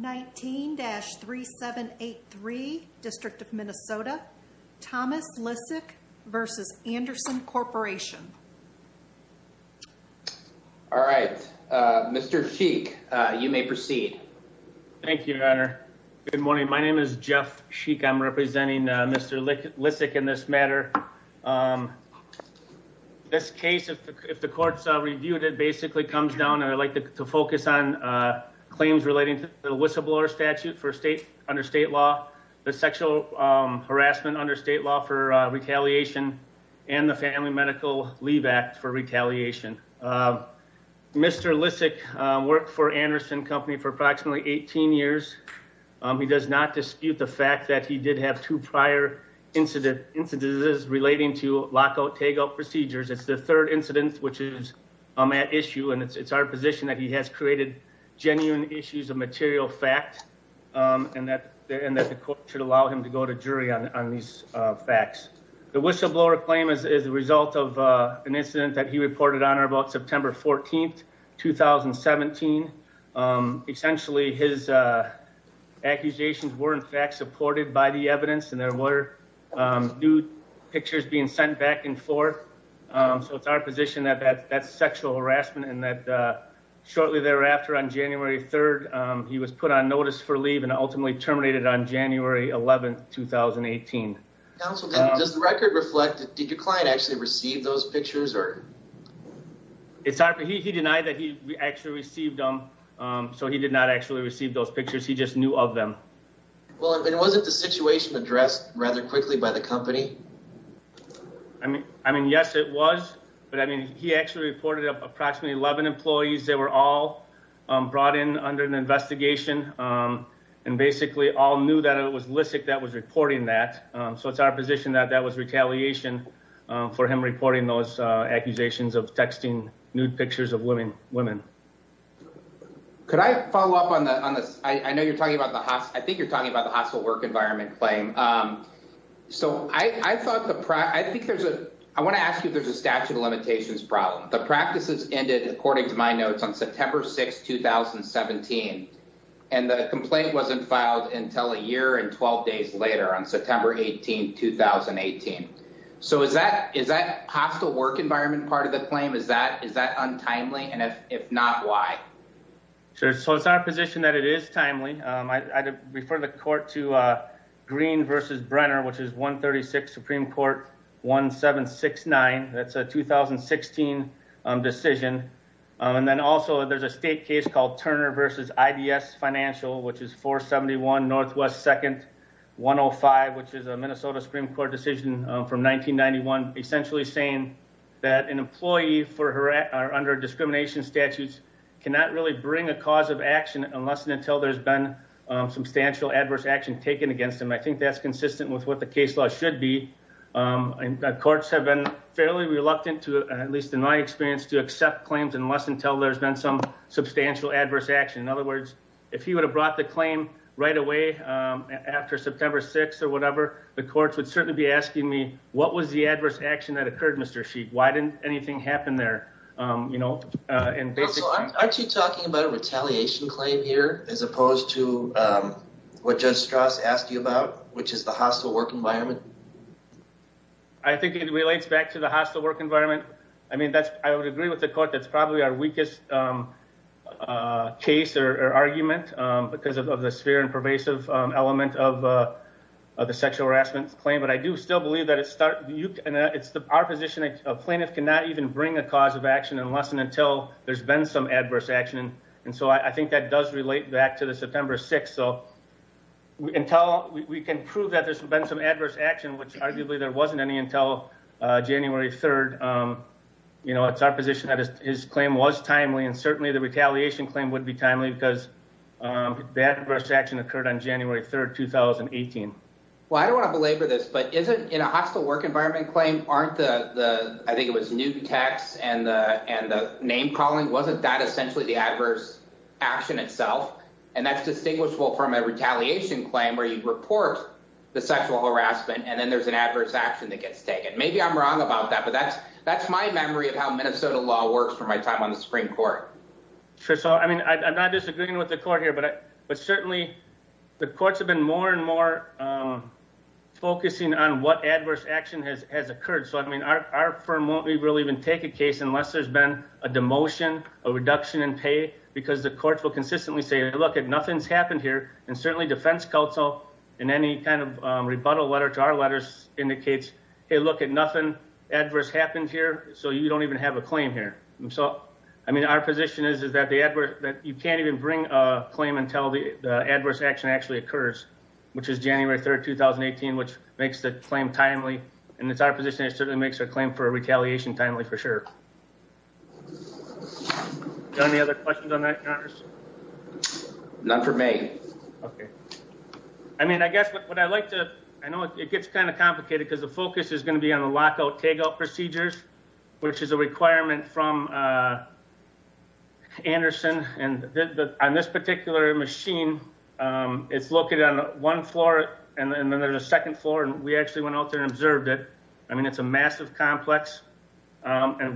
19-3783, District of Minnesota, Thomas Lissick v. Andersen Corporation. All right, Mr. Sheik, you may proceed. Thank you, Your Honor. Good morning. My name is Jeff Sheik. I'm representing Mr. Lissick in this matter. This case, if the court's reviewed, it basically comes down, and I'd like to focus on claims relating to the whistleblower statute under state law, the sexual harassment under state law for retaliation, and the Family Medical Leave Act for retaliation. Mr. Lissick worked for Andersen Company for approximately 18 years. He does not dispute the fact that he did have two prior incidences relating to lockout-takeout procedures. It's the third incident, which is at issue, and it's our position that he has created genuine issues of material fact, and that the court should allow him to go to jury on these facts. The whistleblower claim is the result of an incident that he reported on about September 14th, 2017. Essentially, his accusations were in fact supported by the evidence, and there were nude pictures being sent back and forth. So it's our position that that's sexual harassment, and that shortly thereafter, on January 3rd, he was put on notice for leave and ultimately terminated on January 11th, 2018. Counsel, does the record reflect, did your client actually receive those pictures? He denied that he actually received them, so he did not actually receive those pictures. He just knew of them. Well, and was it the situation addressed rather quickly by the company? I mean, yes, it was, but I mean, he actually reported approximately 11 employees. They were all brought in under an investigation and basically all knew that it was Lissick that was reporting that. So it's our position that that was retaliation for him reporting those accusations of texting nude pictures of women. Could I follow up on this? I think you're talking about the hostile work environment claim. So I want to ask you if there's a statute of limitations problem. The practices ended, according to my notes, on September 6th, 2017, and the complaint wasn't filed until a year and 12 days later on September 18th, 2018. So is that hostile work environment part of the claim? Is that untimely? And if not, why? So it's our position that it is timely. I refer the court to Green v. Brenner, which is 136 Supreme Court 1769. That's a 2016 decision. And then also there's a state case called Turner v. IBS Financial, which is 471 NW 2nd 105, which is a Minnesota Supreme Court decision from 1991, essentially saying that an employee under discrimination statutes cannot really bring a cause of action unless and until there's been substantial adverse action taken against them. And I think that's consistent with what the case law should be. Courts have been fairly reluctant to, at least in my experience, to accept claims unless and until there's been some substantial adverse action. In other words, if he would have brought the claim right away after September 6th or whatever, the courts would certainly be asking me, what was the adverse action that occurred, Mr. Sheik? Why didn't anything happen there? Aren't you talking about a retaliation claim here as opposed to what Judge Strauss asked you about, which is the hostile work environment? I think it relates back to the hostile work environment. I mean, I would agree with the court that's probably our weakest case or argument because of the sphere and pervasive element of the sexual harassment claim. But I do still believe that it's our position that a plaintiff cannot even bring a cause of action unless and until there's been some adverse action. And so I think that does relate back to the September 6th. So we can prove that there's been some adverse action, which arguably there wasn't any until January 3rd. It's our position that his claim was timely, and certainly the retaliation claim would be timely because the adverse action occurred on January 3rd, 2018. Well, I don't want to belabor this, but isn't in a hostile work environment claim, aren't the, I think it was new text and the name calling, wasn't that essentially the adverse action itself? And that's distinguishable from a retaliation claim where you report the sexual harassment and then there's an adverse action that gets taken. Maybe I'm wrong about that, but that's my memory of how Minnesota law works for my time on the Supreme Court. Sure. So, I mean, I'm not disagreeing with the court here, but certainly the courts have been more and more focusing on what adverse action has occurred. So, I mean, our firm won't really even take a case unless there's been a demotion, a reduction in pay, because the courts will consistently say, look, nothing's happened here. And certainly defense counsel in any kind of rebuttal letter to our letters indicates, hey, look at nothing adverse happened here. So you don't even have a claim here. So, I mean, our position is, is that the adverse that you can't even bring a claim until the adverse action actually occurs, which is January 3rd, 2018, which makes the claim timely. And it's our position. It certainly makes a claim for a retaliation timely for sure. Any other questions on that, Congressman? None for me. Okay. And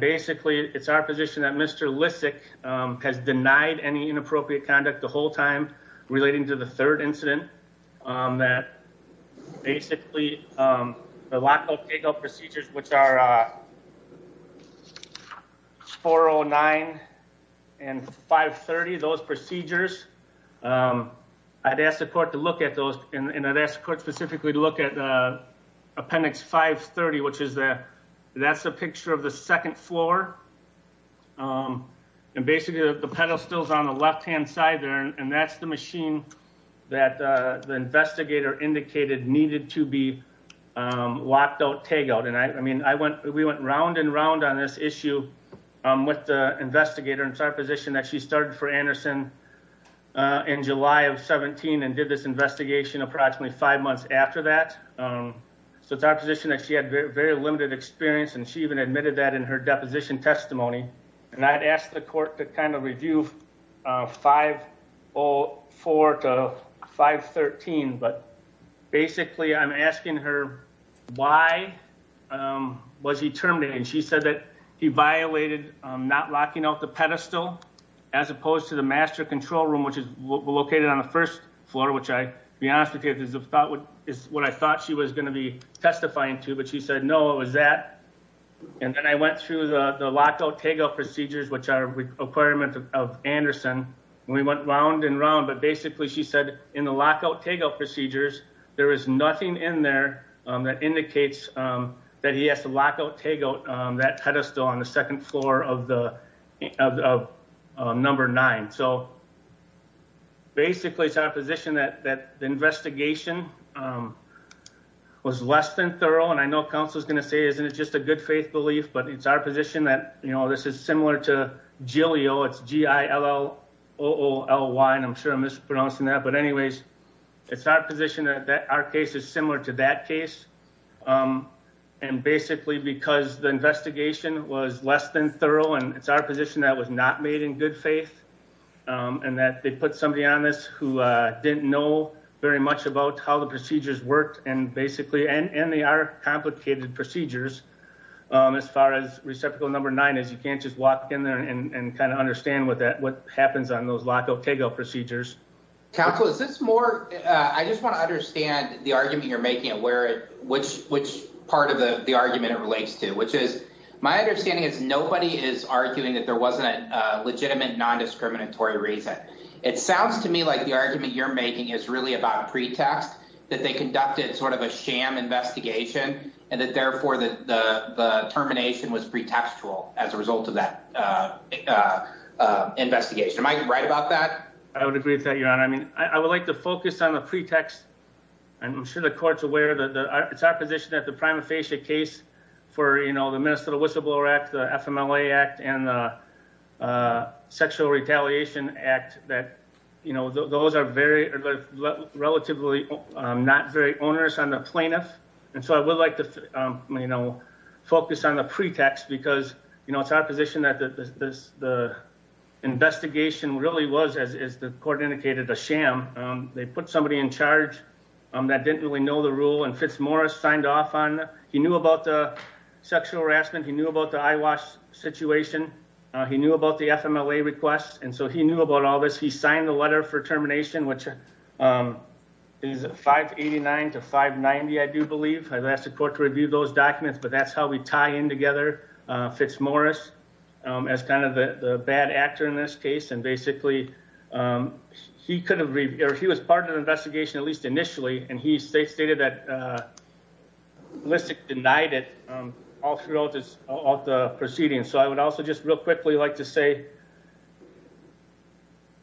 basically it's our position that Mr. Lissick has denied any inappropriate conduct the whole time relating to the third incident that basically the lockout takeout procedures, which are 409 and 530, those procedures, I'd ask the court to look at those. And I'd ask the court specifically to look at appendix 530, which is the, that's the picture of the second floor. And basically the pedal stills on the left-hand side there. And that's the machine that the investigator indicated needed to be locked out takeout. And I, I mean, I went, we went round and round on this issue with the investigator. And it's our position that she started for Anderson in July of 17 and did this investigation approximately five months after that. So it's our position that she had very limited experience. And she even admitted that in her deposition testimony. And I had asked the court to kind of review 504 to 513, but basically I'm asking her why was he terminated? And she said that he violated not locking out the pedestal as opposed to the master control room, which is located on the first floor, which I be honest with you is about what is what I thought she was going to be testifying to, but she said, no, it was that. And then I went through the lockout takeout procedures, which are requirements of Anderson. We went round and round, but basically she said in the lockout takeout procedures, there is nothing in there that indicates that he has to lock out, take out that pedestal on the second floor of the number nine. So basically it's our position that, that the investigation was less than thorough. And I know council is going to say, isn't it just a good faith belief, but it's our position that, you know, this is similar to Jillio it's G I L O O L Y. And I'm sure I'm mispronouncing that, but anyways, it's our position that our case is similar to that case. And basically because the investigation was less than thorough and it's our position that was not made in good faith. And that they put somebody on this who didn't know very much about how the procedures worked and basically, and they are complicated procedures as far as reciprocal number nine, as you can't just walk in there and kind of understand what that, what happens on those lockout takeout procedures. Council, is this more, I just want to understand the argument you're making and where it, which, which part of the argument it relates to, which is my understanding is nobody is arguing that there wasn't a legitimate non-discriminatory reason. It sounds to me like the argument you're making is really about pretext that they conducted sort of a sham investigation and that therefore the termination was pretextual as a result of that investigation. Am I right about that? I would agree with that, your honor. I mean, I would like to focus on the pretext and I'm sure the court's aware that it's our position that the prima facie case for, you know, the Minnesota whistleblower act, the FMLA act and the sexual retaliation act that, you know, those are very relatively not very onerous on the plaintiff. And so I would like to, you know, focus on the pretext because, you know, it's our position that the investigation really was, as the court indicated, a sham. They put somebody in charge that didn't really know the rule and Fitzmorris signed off on, he knew about the sexual harassment, he knew about the eyewash situation. He knew about the FMLA request. And so he knew about all this. He signed the letter for termination, which is a 589 to 590, I do believe. I've asked the court to review those documents, but that's how we tie in together Fitzmorris as kind of the bad actor in this case. And basically he was part of the investigation, at least initially, and he stated that Lissick denied it all throughout the proceedings. So I would also just real quickly like to say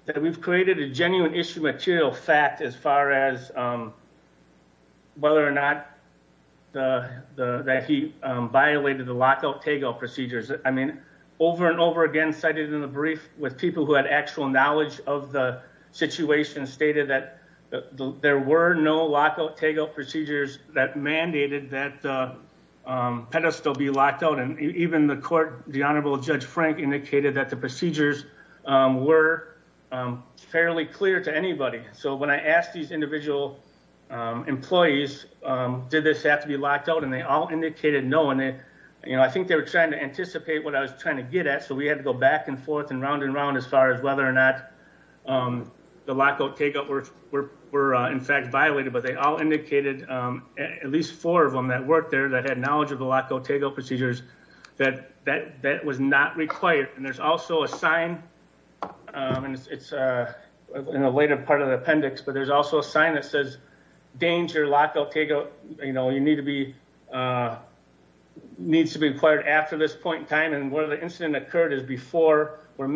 that we've created a genuine issue material fact as far as whether or not that he violated the lockout TAYGO procedures. I mean, over and over again, cited in the brief with people who had actual knowledge of the situation stated that there were no lockout TAYGO procedures that mandated that pedestal be locked out. And even the court, the Honorable Judge Frank indicated that the procedures were fairly clear to anybody. So when I asked these individual employees, did this have to be locked out, and they all indicated no. And I think they were trying to anticipate what I was trying to get at, so we had to go back and forth and round and round as far as whether or not the lockout TAYGO were in fact violated. But they all indicated, at least four of them that worked there, that had knowledge of the lockout TAYGO procedures, that that was not required. And there's also a sign, and it's in a later part of the appendix, but there's also a sign that says, danger, lockout TAYGO, you know, you need to be, needs to be required after this point in time. So I've asked that the court focus on the, on the retaliation claims. And, you know, it's our position that there was a short period of time, you know, after the reporting of the sexual harassment case, that there was a short period of time before Mr.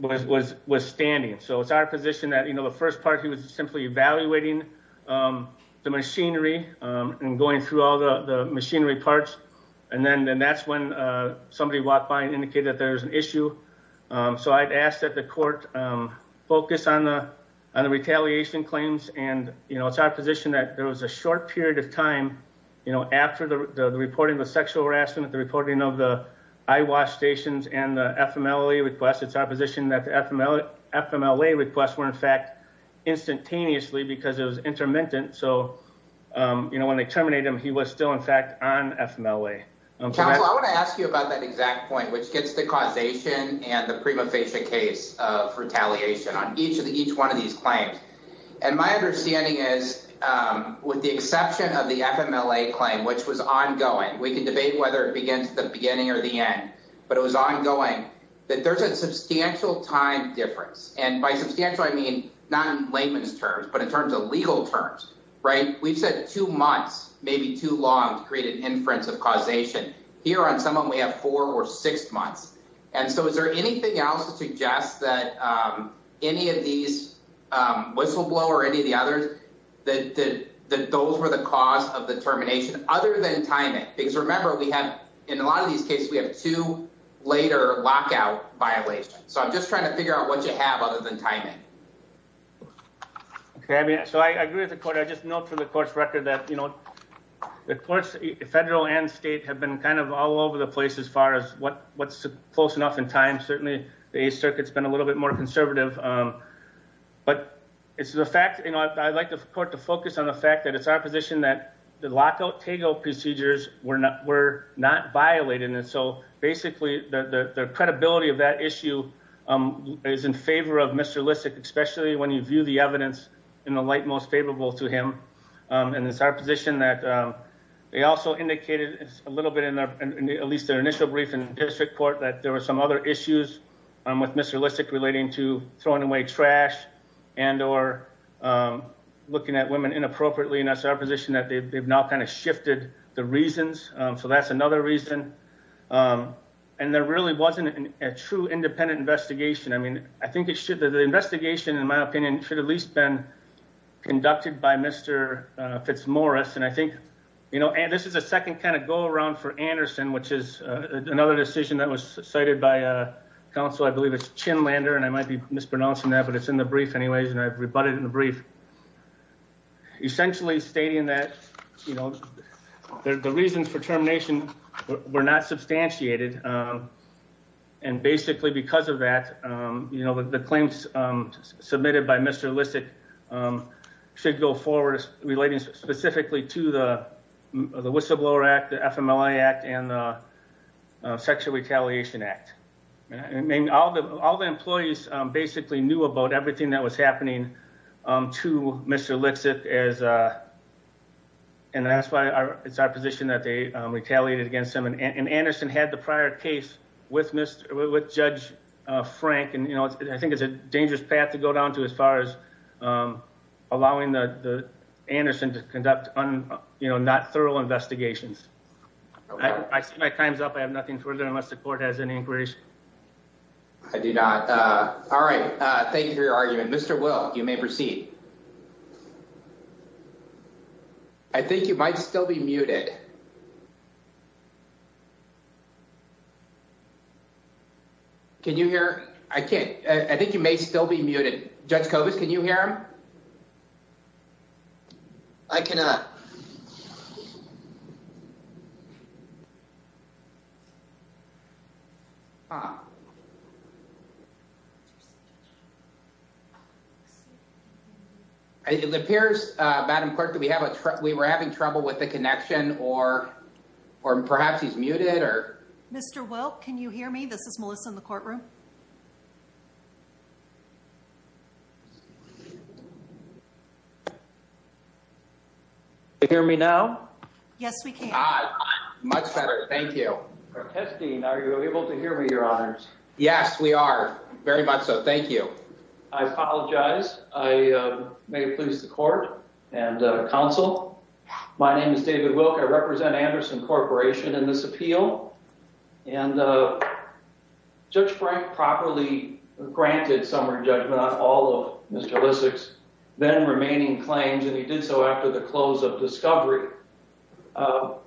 Lissick was, was standing. So it's our position that, you know, the first part, he was simply evaluating the machinery and going through all the machinery parts, and then that's when somebody walked by and indicated that there was an issue. So I've asked that the court focus on the, on the retaliation claims. And, you know, it's our position that there was a short period of time, you know, after the reporting of the sexual harassment, the reporting of the eyewash stations and the FMLA requests. It's our position that the FMLA requests were in fact instantaneously because it was intermittent. So, you know, when they terminated him, he was still in fact on FMLA. I want to ask you about that exact point, which gets the causation and the prima facie case of retaliation on each of the each one of these claims. And my understanding is, with the exception of the FMLA claim, which was ongoing, we can debate whether it begins at the beginning or the end, but it was ongoing, that there's a substantial time difference. And by substantial, I mean, not in layman's terms, but in terms of legal terms, right? We've said two months, maybe too long to create an inference of causation. Here on some of them we have four or six months. And so is there anything else to suggest that any of these whistleblower or any of the others, that those were the cause of the termination other than timing? Because remember, we have, in a lot of these cases, we have two later lockout violations. So I'm just trying to figure out what you have other than timing. Okay. I mean, so I agree with the court. I just note for the court's record that, you know, the courts, federal and state have been kind of all over the place as far as what's close enough in time. Certainly the Eighth Circuit's been a little bit more conservative, but it's the fact, you know, I'd like the court to focus on the fact that it's our position that the lockout takeout procedures were not violated. And so basically the credibility of that issue is in favor of Mr. Lissick, especially when you view the evidence in the light most favorable to him. And it's our position that they also indicated a little bit in their, at least their initial brief in district court, that there were some other issues with Mr. Lissick relating to throwing away trash and or looking at women inappropriately. And that's our position that they've now kind of shifted the reasons. So that's another reason. And there really wasn't a true independent investigation. I mean, I think it should, the investigation, in my opinion, should at least been conducted by Mr. Fitzmorris. And I think, you know, and this is a second kind of go around for Anderson, which is another decision that was cited by counsel. I believe it's Chinlander and I might be mispronouncing that, but it's in the brief anyways. And I've rebutted in the brief, essentially stating that, you know, the reasons for termination were not substantiated. And basically because of that, you know, the claims submitted by Mr. Lissick should go forward relating specifically to the whistleblower act, the FMLA act and the sexual retaliation act. I mean, all the employees basically knew about everything that was happening to Mr. Lissick and that's why it's our position that they retaliated against him. And Anderson had the prior case with Judge Frank. And, you know, I think it's a dangerous path to go down to as far as allowing the Anderson to conduct, you know, not thorough investigations. I see my time's up. I have nothing further unless the court has any inquiries. I do not. All right. Thank you for your argument. Mr. Will, you may proceed. I think you might still be muted. Can you hear? I can't. I think you may still be muted. Judge Kovacs, can you hear him? I cannot. It appears, Madam Clerk, that we were having trouble with the connection or perhaps he's muted. Mr. Will, can you hear me? This is Melissa in the courtroom. Can you hear me now? Yes, we can. Much better. Thank you. Are you able to hear me, Your Honors? Yes, we are. Very much so. Thank you. I apologize. I may please the court and counsel. My name is David Wilk. I represent Anderson Corporation in this appeal. And Judge Frank properly granted summary judgment on all of Mr. Lissick's then remaining claims, and he did so after the close of discovery.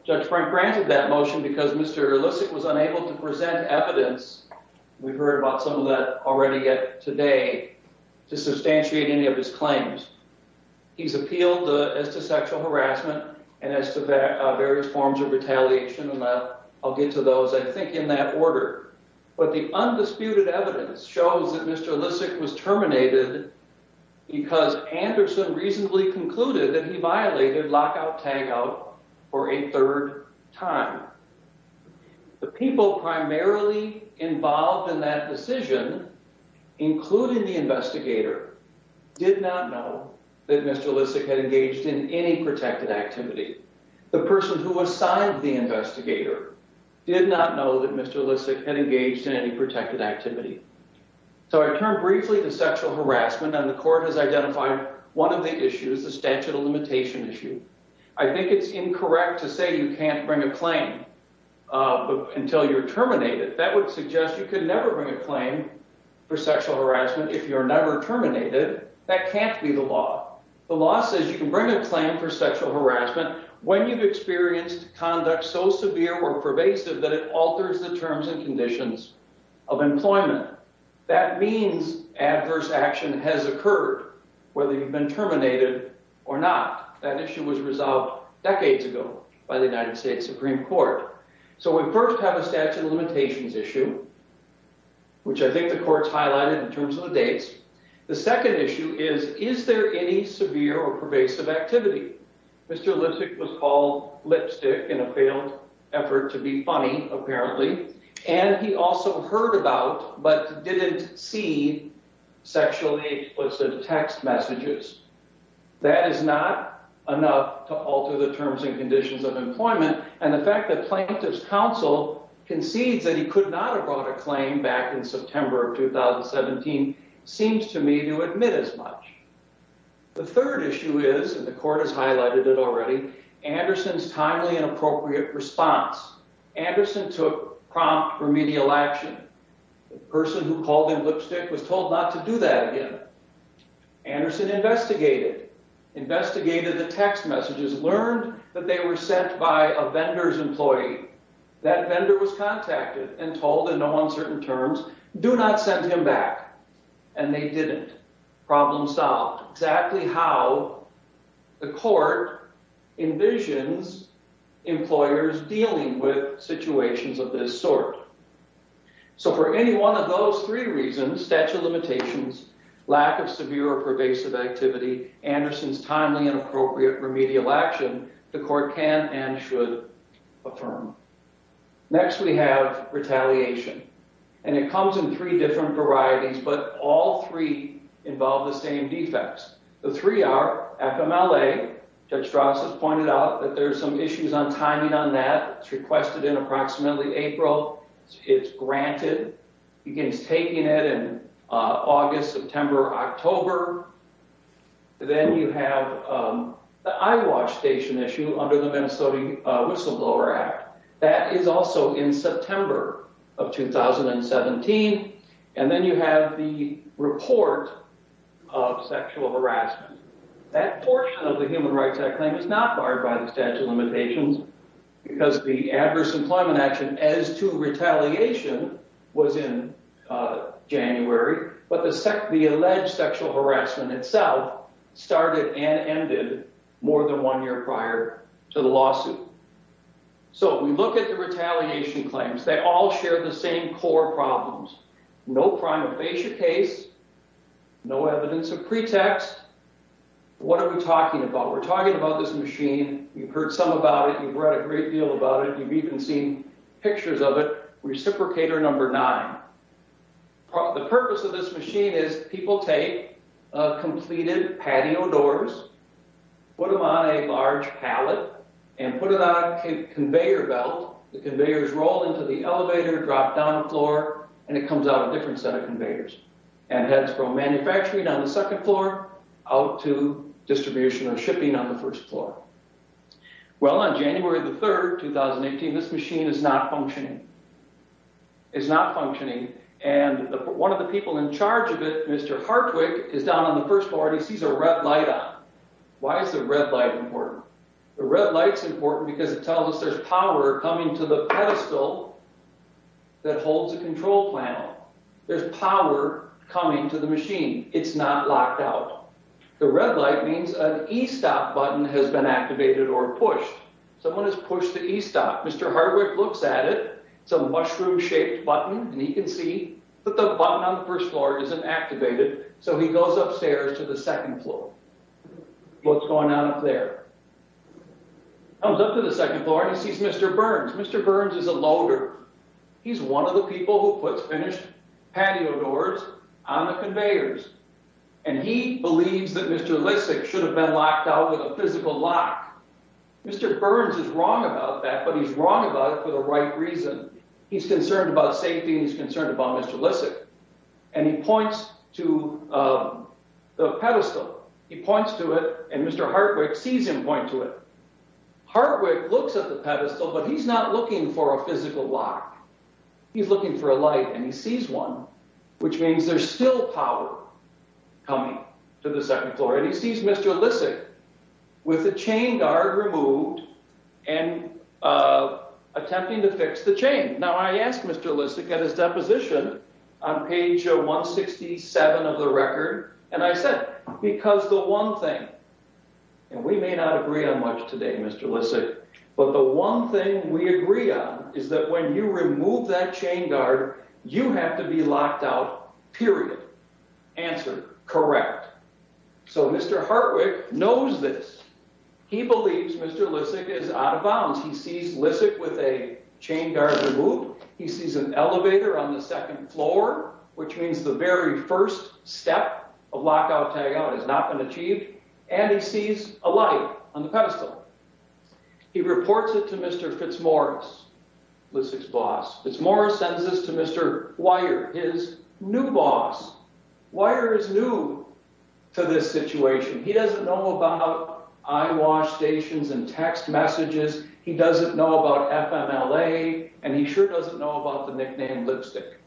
Judge Frank granted that motion because Mr. Lissick was unable to present evidence—we've heard about some of that already yet today—to substantiate any of his claims. He's appealed as to sexual harassment and as to various forms of retaliation, and I'll get to those, I think, in that order. But the undisputed evidence shows that Mr. Lissick was terminated because Anderson reasonably concluded that he violated lockout-tagout for a third time. The people primarily involved in that decision, including the investigator, did not know that Mr. Lissick had engaged in any protected activity. The person who assigned the investigator did not know that Mr. Lissick had engaged in any protected activity. So I turn briefly to sexual harassment, and the court has identified one of the issues, the statute of limitation issue. I think it's incorrect to say you can't bring a claim until you're terminated. That would suggest you could never bring a claim for sexual harassment if you're never terminated. That can't be the law. The law says you can bring a claim for sexual harassment when you've experienced conduct so severe or pervasive that it alters the terms and conditions of employment. That means adverse action has occurred, whether you've been terminated or not. That issue was resolved decades ago by the United States Supreme Court. So we first have a statute of limitations issue, which I think the court's highlighted in terms of the dates. The second issue is, is there any severe or pervasive activity? Mr. Lissick was called lipstick in a failed effort to be funny, apparently, and he also heard about but didn't see sexually explicit text messages. That is not enough to alter the terms and conditions of employment, and the fact that plaintiff's counsel concedes that he could not have brought a claim back in September of 2017 seems to me to admit as much. The third issue is, and the court has highlighted it already, Anderson's timely and appropriate response. Anderson took prompt remedial action. The person who called him lipstick was told not to do that again. Anderson investigated, investigated the text messages, learned that they were sent by a vendor's employee. That vendor was contacted and told in no uncertain terms, do not send him back, and they didn't. Problem solved. Exactly how the court envisions employers dealing with situations of this sort. So for any one of those three reasons, statute of limitations, lack of severe or pervasive activity, Anderson's timely and appropriate remedial action, the court can and should affirm. Next we have retaliation, and it comes in three different varieties, but all three involve the same defects. The three are FMLA. Judge Strauss has pointed out that there are some issues on timing on that. It's requested in approximately April. It's granted. He begins taking it in August, September, October. Then you have the iWatch station issue under the Minnesota Whistleblower Act. That is also in September of 2017. And then you have the report of sexual harassment. That portion of the Human Rights Act claim is not barred by the statute of limitations because the adverse employment action as to retaliation was in January, but the alleged sexual harassment itself started and ended more than one year prior to the lawsuit. So we look at the retaliation claims. They all share the same core problems. No prima facie case. No evidence of pretext. What are we talking about? We're talking about this machine. You've heard some about it. You've read a great deal about it. You've even seen pictures of it. Reciprocator number nine. The purpose of this machine is people take completed patio doors, put them on a large pallet, and put it on a conveyor belt. The conveyors roll into the elevator, drop down a floor, and it comes out a different set of conveyors. And that's from manufacturing on the second floor out to distribution or shipping on the first floor. Well, on January the 3rd, 2018, this machine is not functioning. It's not functioning, and one of the people in charge of it, Mr. Hartwick, is down on the first floor and he sees a red light on. Why is the red light important? The red light's important because it tells us there's power coming to the pedestal that holds the control panel. There's power coming to the machine. It's not locked out. The red light means an e-stop button has been activated or pushed. Someone has pushed the e-stop. Mr. Hartwick looks at it. It's a mushroom-shaped button, and he can see that the button on the first floor isn't activated, so he goes upstairs to the second floor. What's going on up there? He comes up to the second floor and he sees Mr. Burns. Mr. Burns is a loader. He's one of the people who puts finished patio doors on the conveyors. And he believes that Mr. Lissick should have been locked out with a physical lock. Mr. Burns is wrong about that, but he's wrong about it for the right reason. He's concerned about safety and he's concerned about Mr. Lissick. And he points to the pedestal. He points to it, and Mr. Hartwick sees him point to it. Hartwick looks at the pedestal, but he's not looking for a physical lock. He's looking for a light, and he sees one, which means there's still power coming to the second floor. And he sees Mr. Lissick with a chain guard removed and attempting to fix the chain. Now, I asked Mr. Lissick at his deposition on page 167 of the record, and I said, And we may not agree on much today, Mr. Lissick, but the one thing we agree on is that when you remove that chain guard, you have to be locked out, period. Answer, correct. So Mr. Hartwick knows this. He believes Mr. Lissick is out of bounds. He sees Lissick with a chain guard removed. He sees an elevator on the second floor, which means the very first step of lockout-tagout has not been achieved, and he sees a light on the pedestal. He reports it to Mr. Fitzmaurice, Lissick's boss. Fitzmaurice sends this to Mr. Weyer, his new boss. Weyer is new to this situation. He doesn't know about eyewash stations and text messages. He doesn't know about FMLA, and he sure doesn't know about the nickname Lipstick.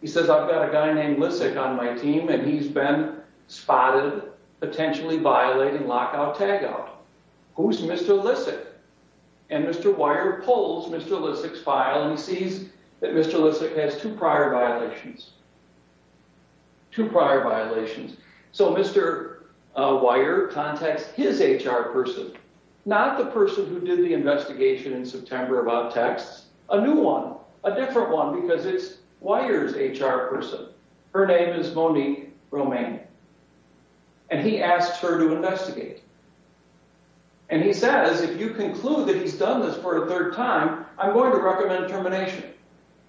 He says, I've got a guy named Lissick on my team, and he's been spotted potentially violating lockout-tagout. Who's Mr. Lissick? And Mr. Weyer pulls Mr. Lissick's file, and he sees that Mr. Lissick has two prior violations. Two prior violations. So Mr. Weyer contacts his HR person, not the person who did the investigation in September about texts, a new one, a different one, because it's Weyer's HR person. Her name is Monique Romaine, and he asks her to investigate. And he says, if you conclude that he's done this for a third time, I'm going to recommend termination.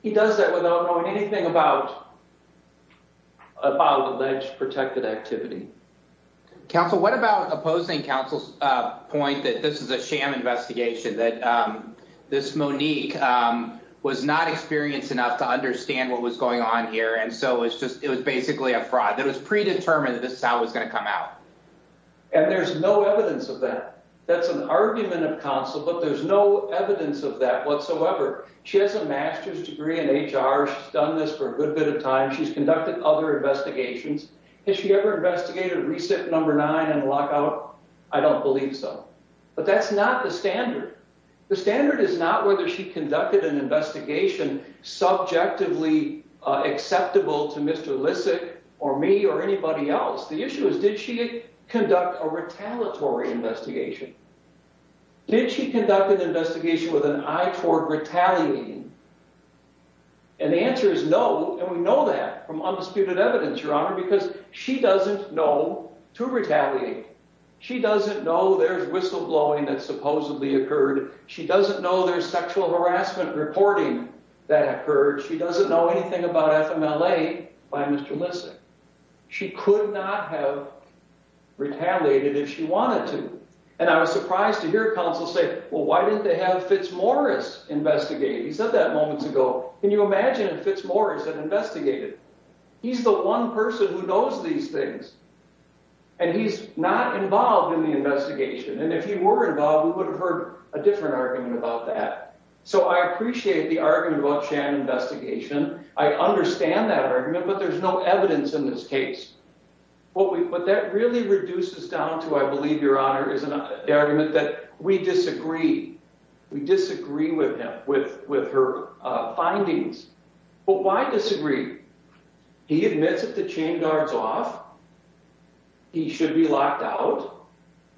He does that without knowing anything about alleged protected activity. Counsel, what about opposing counsel's point that this is a sham investigation, that this Monique was not experienced enough to understand what was going on here, and so it was basically a fraud. It was predetermined that this is how it was going to come out. And there's no evidence of that. That's an argument of counsel, but there's no evidence of that whatsoever. She has a master's degree in HR. She's done this for a good bit of time. She's conducted other investigations. Has she ever investigated re-sit number nine in a lockout? I don't believe so. But that's not the standard. The standard is not whether she conducted an investigation subjectively acceptable to Mr. Lissick or me or anybody else. The issue is, did she conduct a retaliatory investigation? Did she conduct an investigation with an eye toward retaliating? And the answer is no, and we know that from undisputed evidence, Your Honor, because she doesn't know to retaliate. She doesn't know there's whistleblowing that supposedly occurred. She doesn't know there's sexual harassment reporting that occurred. She doesn't know anything about FMLA by Mr. Lissick. She could not have retaliated if she wanted to. And I was surprised to hear counsel say, well, why didn't they have Fitzmorris investigate? He said that moments ago. Can you imagine if Fitzmorris had investigated? He's the one person who knows these things, and he's not involved in the investigation. And if he were involved, we would have heard a different argument about that. So I appreciate the argument about Shannon investigation. I understand that argument, but there's no evidence in this case. What that really reduces down to, I believe, Your Honor, is an argument that we disagree. We disagree with him, with her findings. But why disagree? He admits that the chain guard's off. He should be locked out.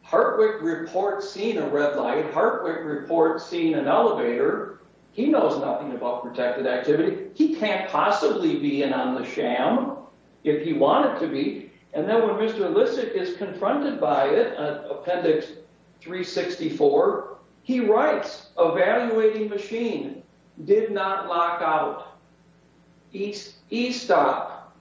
Hartwick reports seeing a red light. Hartwick reports seeing an elevator. He knows nothing about protected activity. He can't possibly be in on the sham if he wanted to be. And then when Mr. Lissick is confronted by it, Appendix 364, he writes, Evaluating machine did not lock out. E-stop.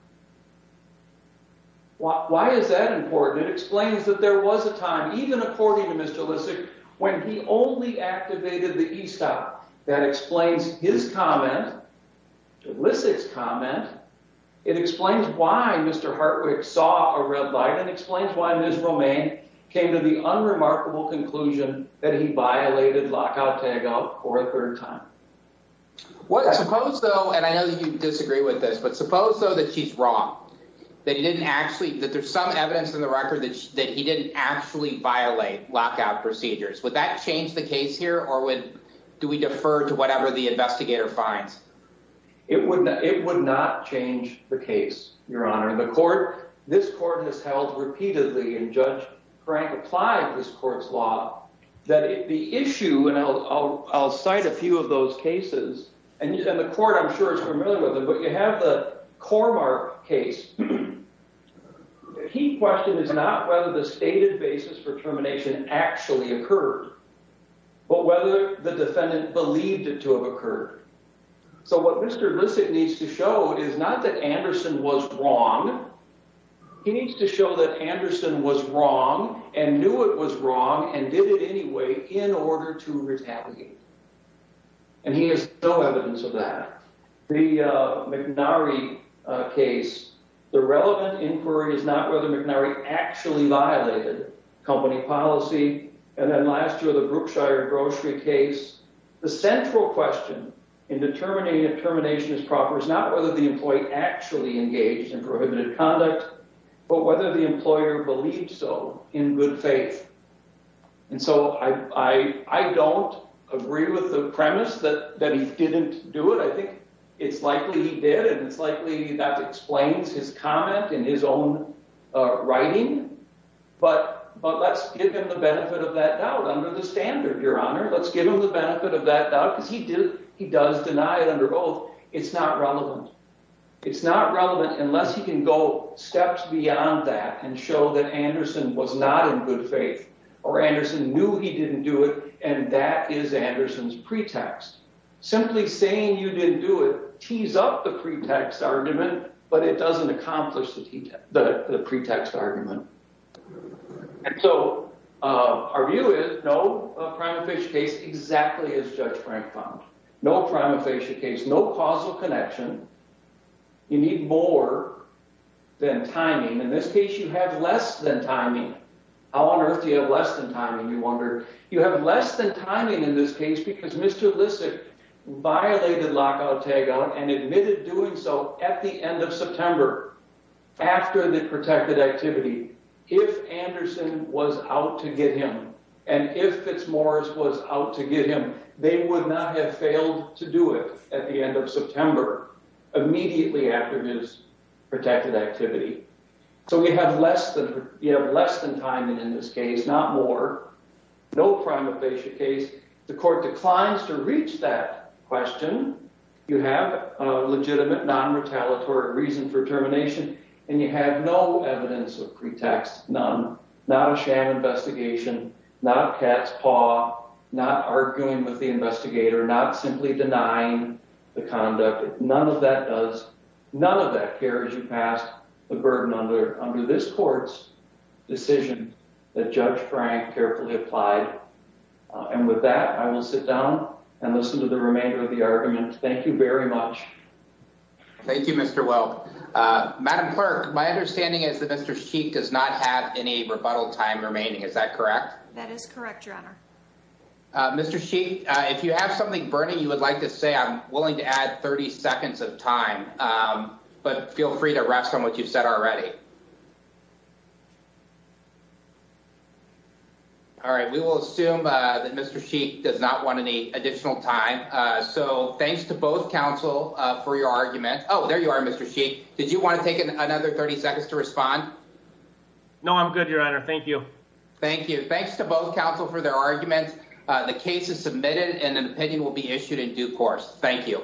Why is that important? It explains that there was a time, even according to Mr. Lissick, when he only activated the E-stop. That explains his comment, Lissick's comment. It explains why Mr. Hartwick saw a red light. It explains why Ms. Romaine came to the unremarkable conclusion that he violated lockout tagout for a third time. Suppose, though, and I know you disagree with this, but suppose, though, that she's wrong. That there's some evidence in the record that he didn't actually violate lockout procedures. Would that change the case here, or do we defer to whatever the investigator finds? It would not change the case, Your Honor. The court, this court has held repeatedly, and Judge Frank applied this court's law, that the issue, and I'll cite a few of those cases, and the court, I'm sure, is familiar with them, but you have the Cormark case. The key question is not whether the stated basis for termination actually occurred, but whether the defendant believed it to have occurred. So what Mr. Lissick needs to show is not that Anderson was wrong. He needs to show that Anderson was wrong, and knew it was wrong, and did it anyway in order to retaliate. And he has no evidence of that. The McNary case, the relevant inquiry is not whether McNary actually violated company policy. And then last year, the Brookshire grocery case, the central question in determining if termination is proper is not whether the employee actually engaged in prohibited conduct, but whether the employer believed so in good faith. And so I don't agree with the premise that he didn't do it. It's likely he did, and it's likely that explains his comment in his own writing, but let's give him the benefit of that doubt under the standard, Your Honor. Let's give him the benefit of that doubt, because he does deny it under oath. It's not relevant. It's not relevant unless he can go steps beyond that and show that Anderson was not in good faith, or Anderson knew he didn't do it, and that is Anderson's pretext. Simply saying you didn't do it tees up the pretext argument, but it doesn't accomplish the pretext argument. And so our view is, no, a prima facie case exactly as Judge Frank found. No prima facie case, no causal connection. You need more than timing. In this case, you have less than timing. How on earth do you have less than timing, you wonder? You have less than timing in this case because Mr. Lissick violated lockout tagout and admitted doing so at the end of September after the protected activity. If Anderson was out to get him, and if Fitzmaurice was out to get him, they would not have failed to do it at the end of September, immediately after his protected activity. So we have less than timing in this case, not more. No prima facie case. The court declines to reach that question. You have a legitimate non-retaliatory reason for termination, and you have no evidence of pretext, none. Not a sham investigation, not a cat's paw, not arguing with the investigator, not simply denying the conduct. None of that does, none of that carries you past the burden under this court's decision that Judge Frank carefully applied. And with that, I will sit down and listen to the remainder of the argument. Thank you very much. Thank you, Mr. Wilk. Madam Clerk, my understanding is that Mr. Sheik does not have any rebuttal time remaining. Is that correct? That is correct, Your Honor. Mr. Sheik, if you have something burning you would like to say, I'm willing to add 30 seconds of time, but feel free to rest on what you've said already. All right, we will assume that Mr. Sheik does not want any additional time. So thanks to both counsel for your argument. Oh, there you are, Mr. Sheik. Did you want to take another 30 seconds to respond? No, I'm good, Your Honor. Thank you. Thank you. Thanks to both counsel for their arguments. The case is submitted and an opinion will be issued in due course. Thank you.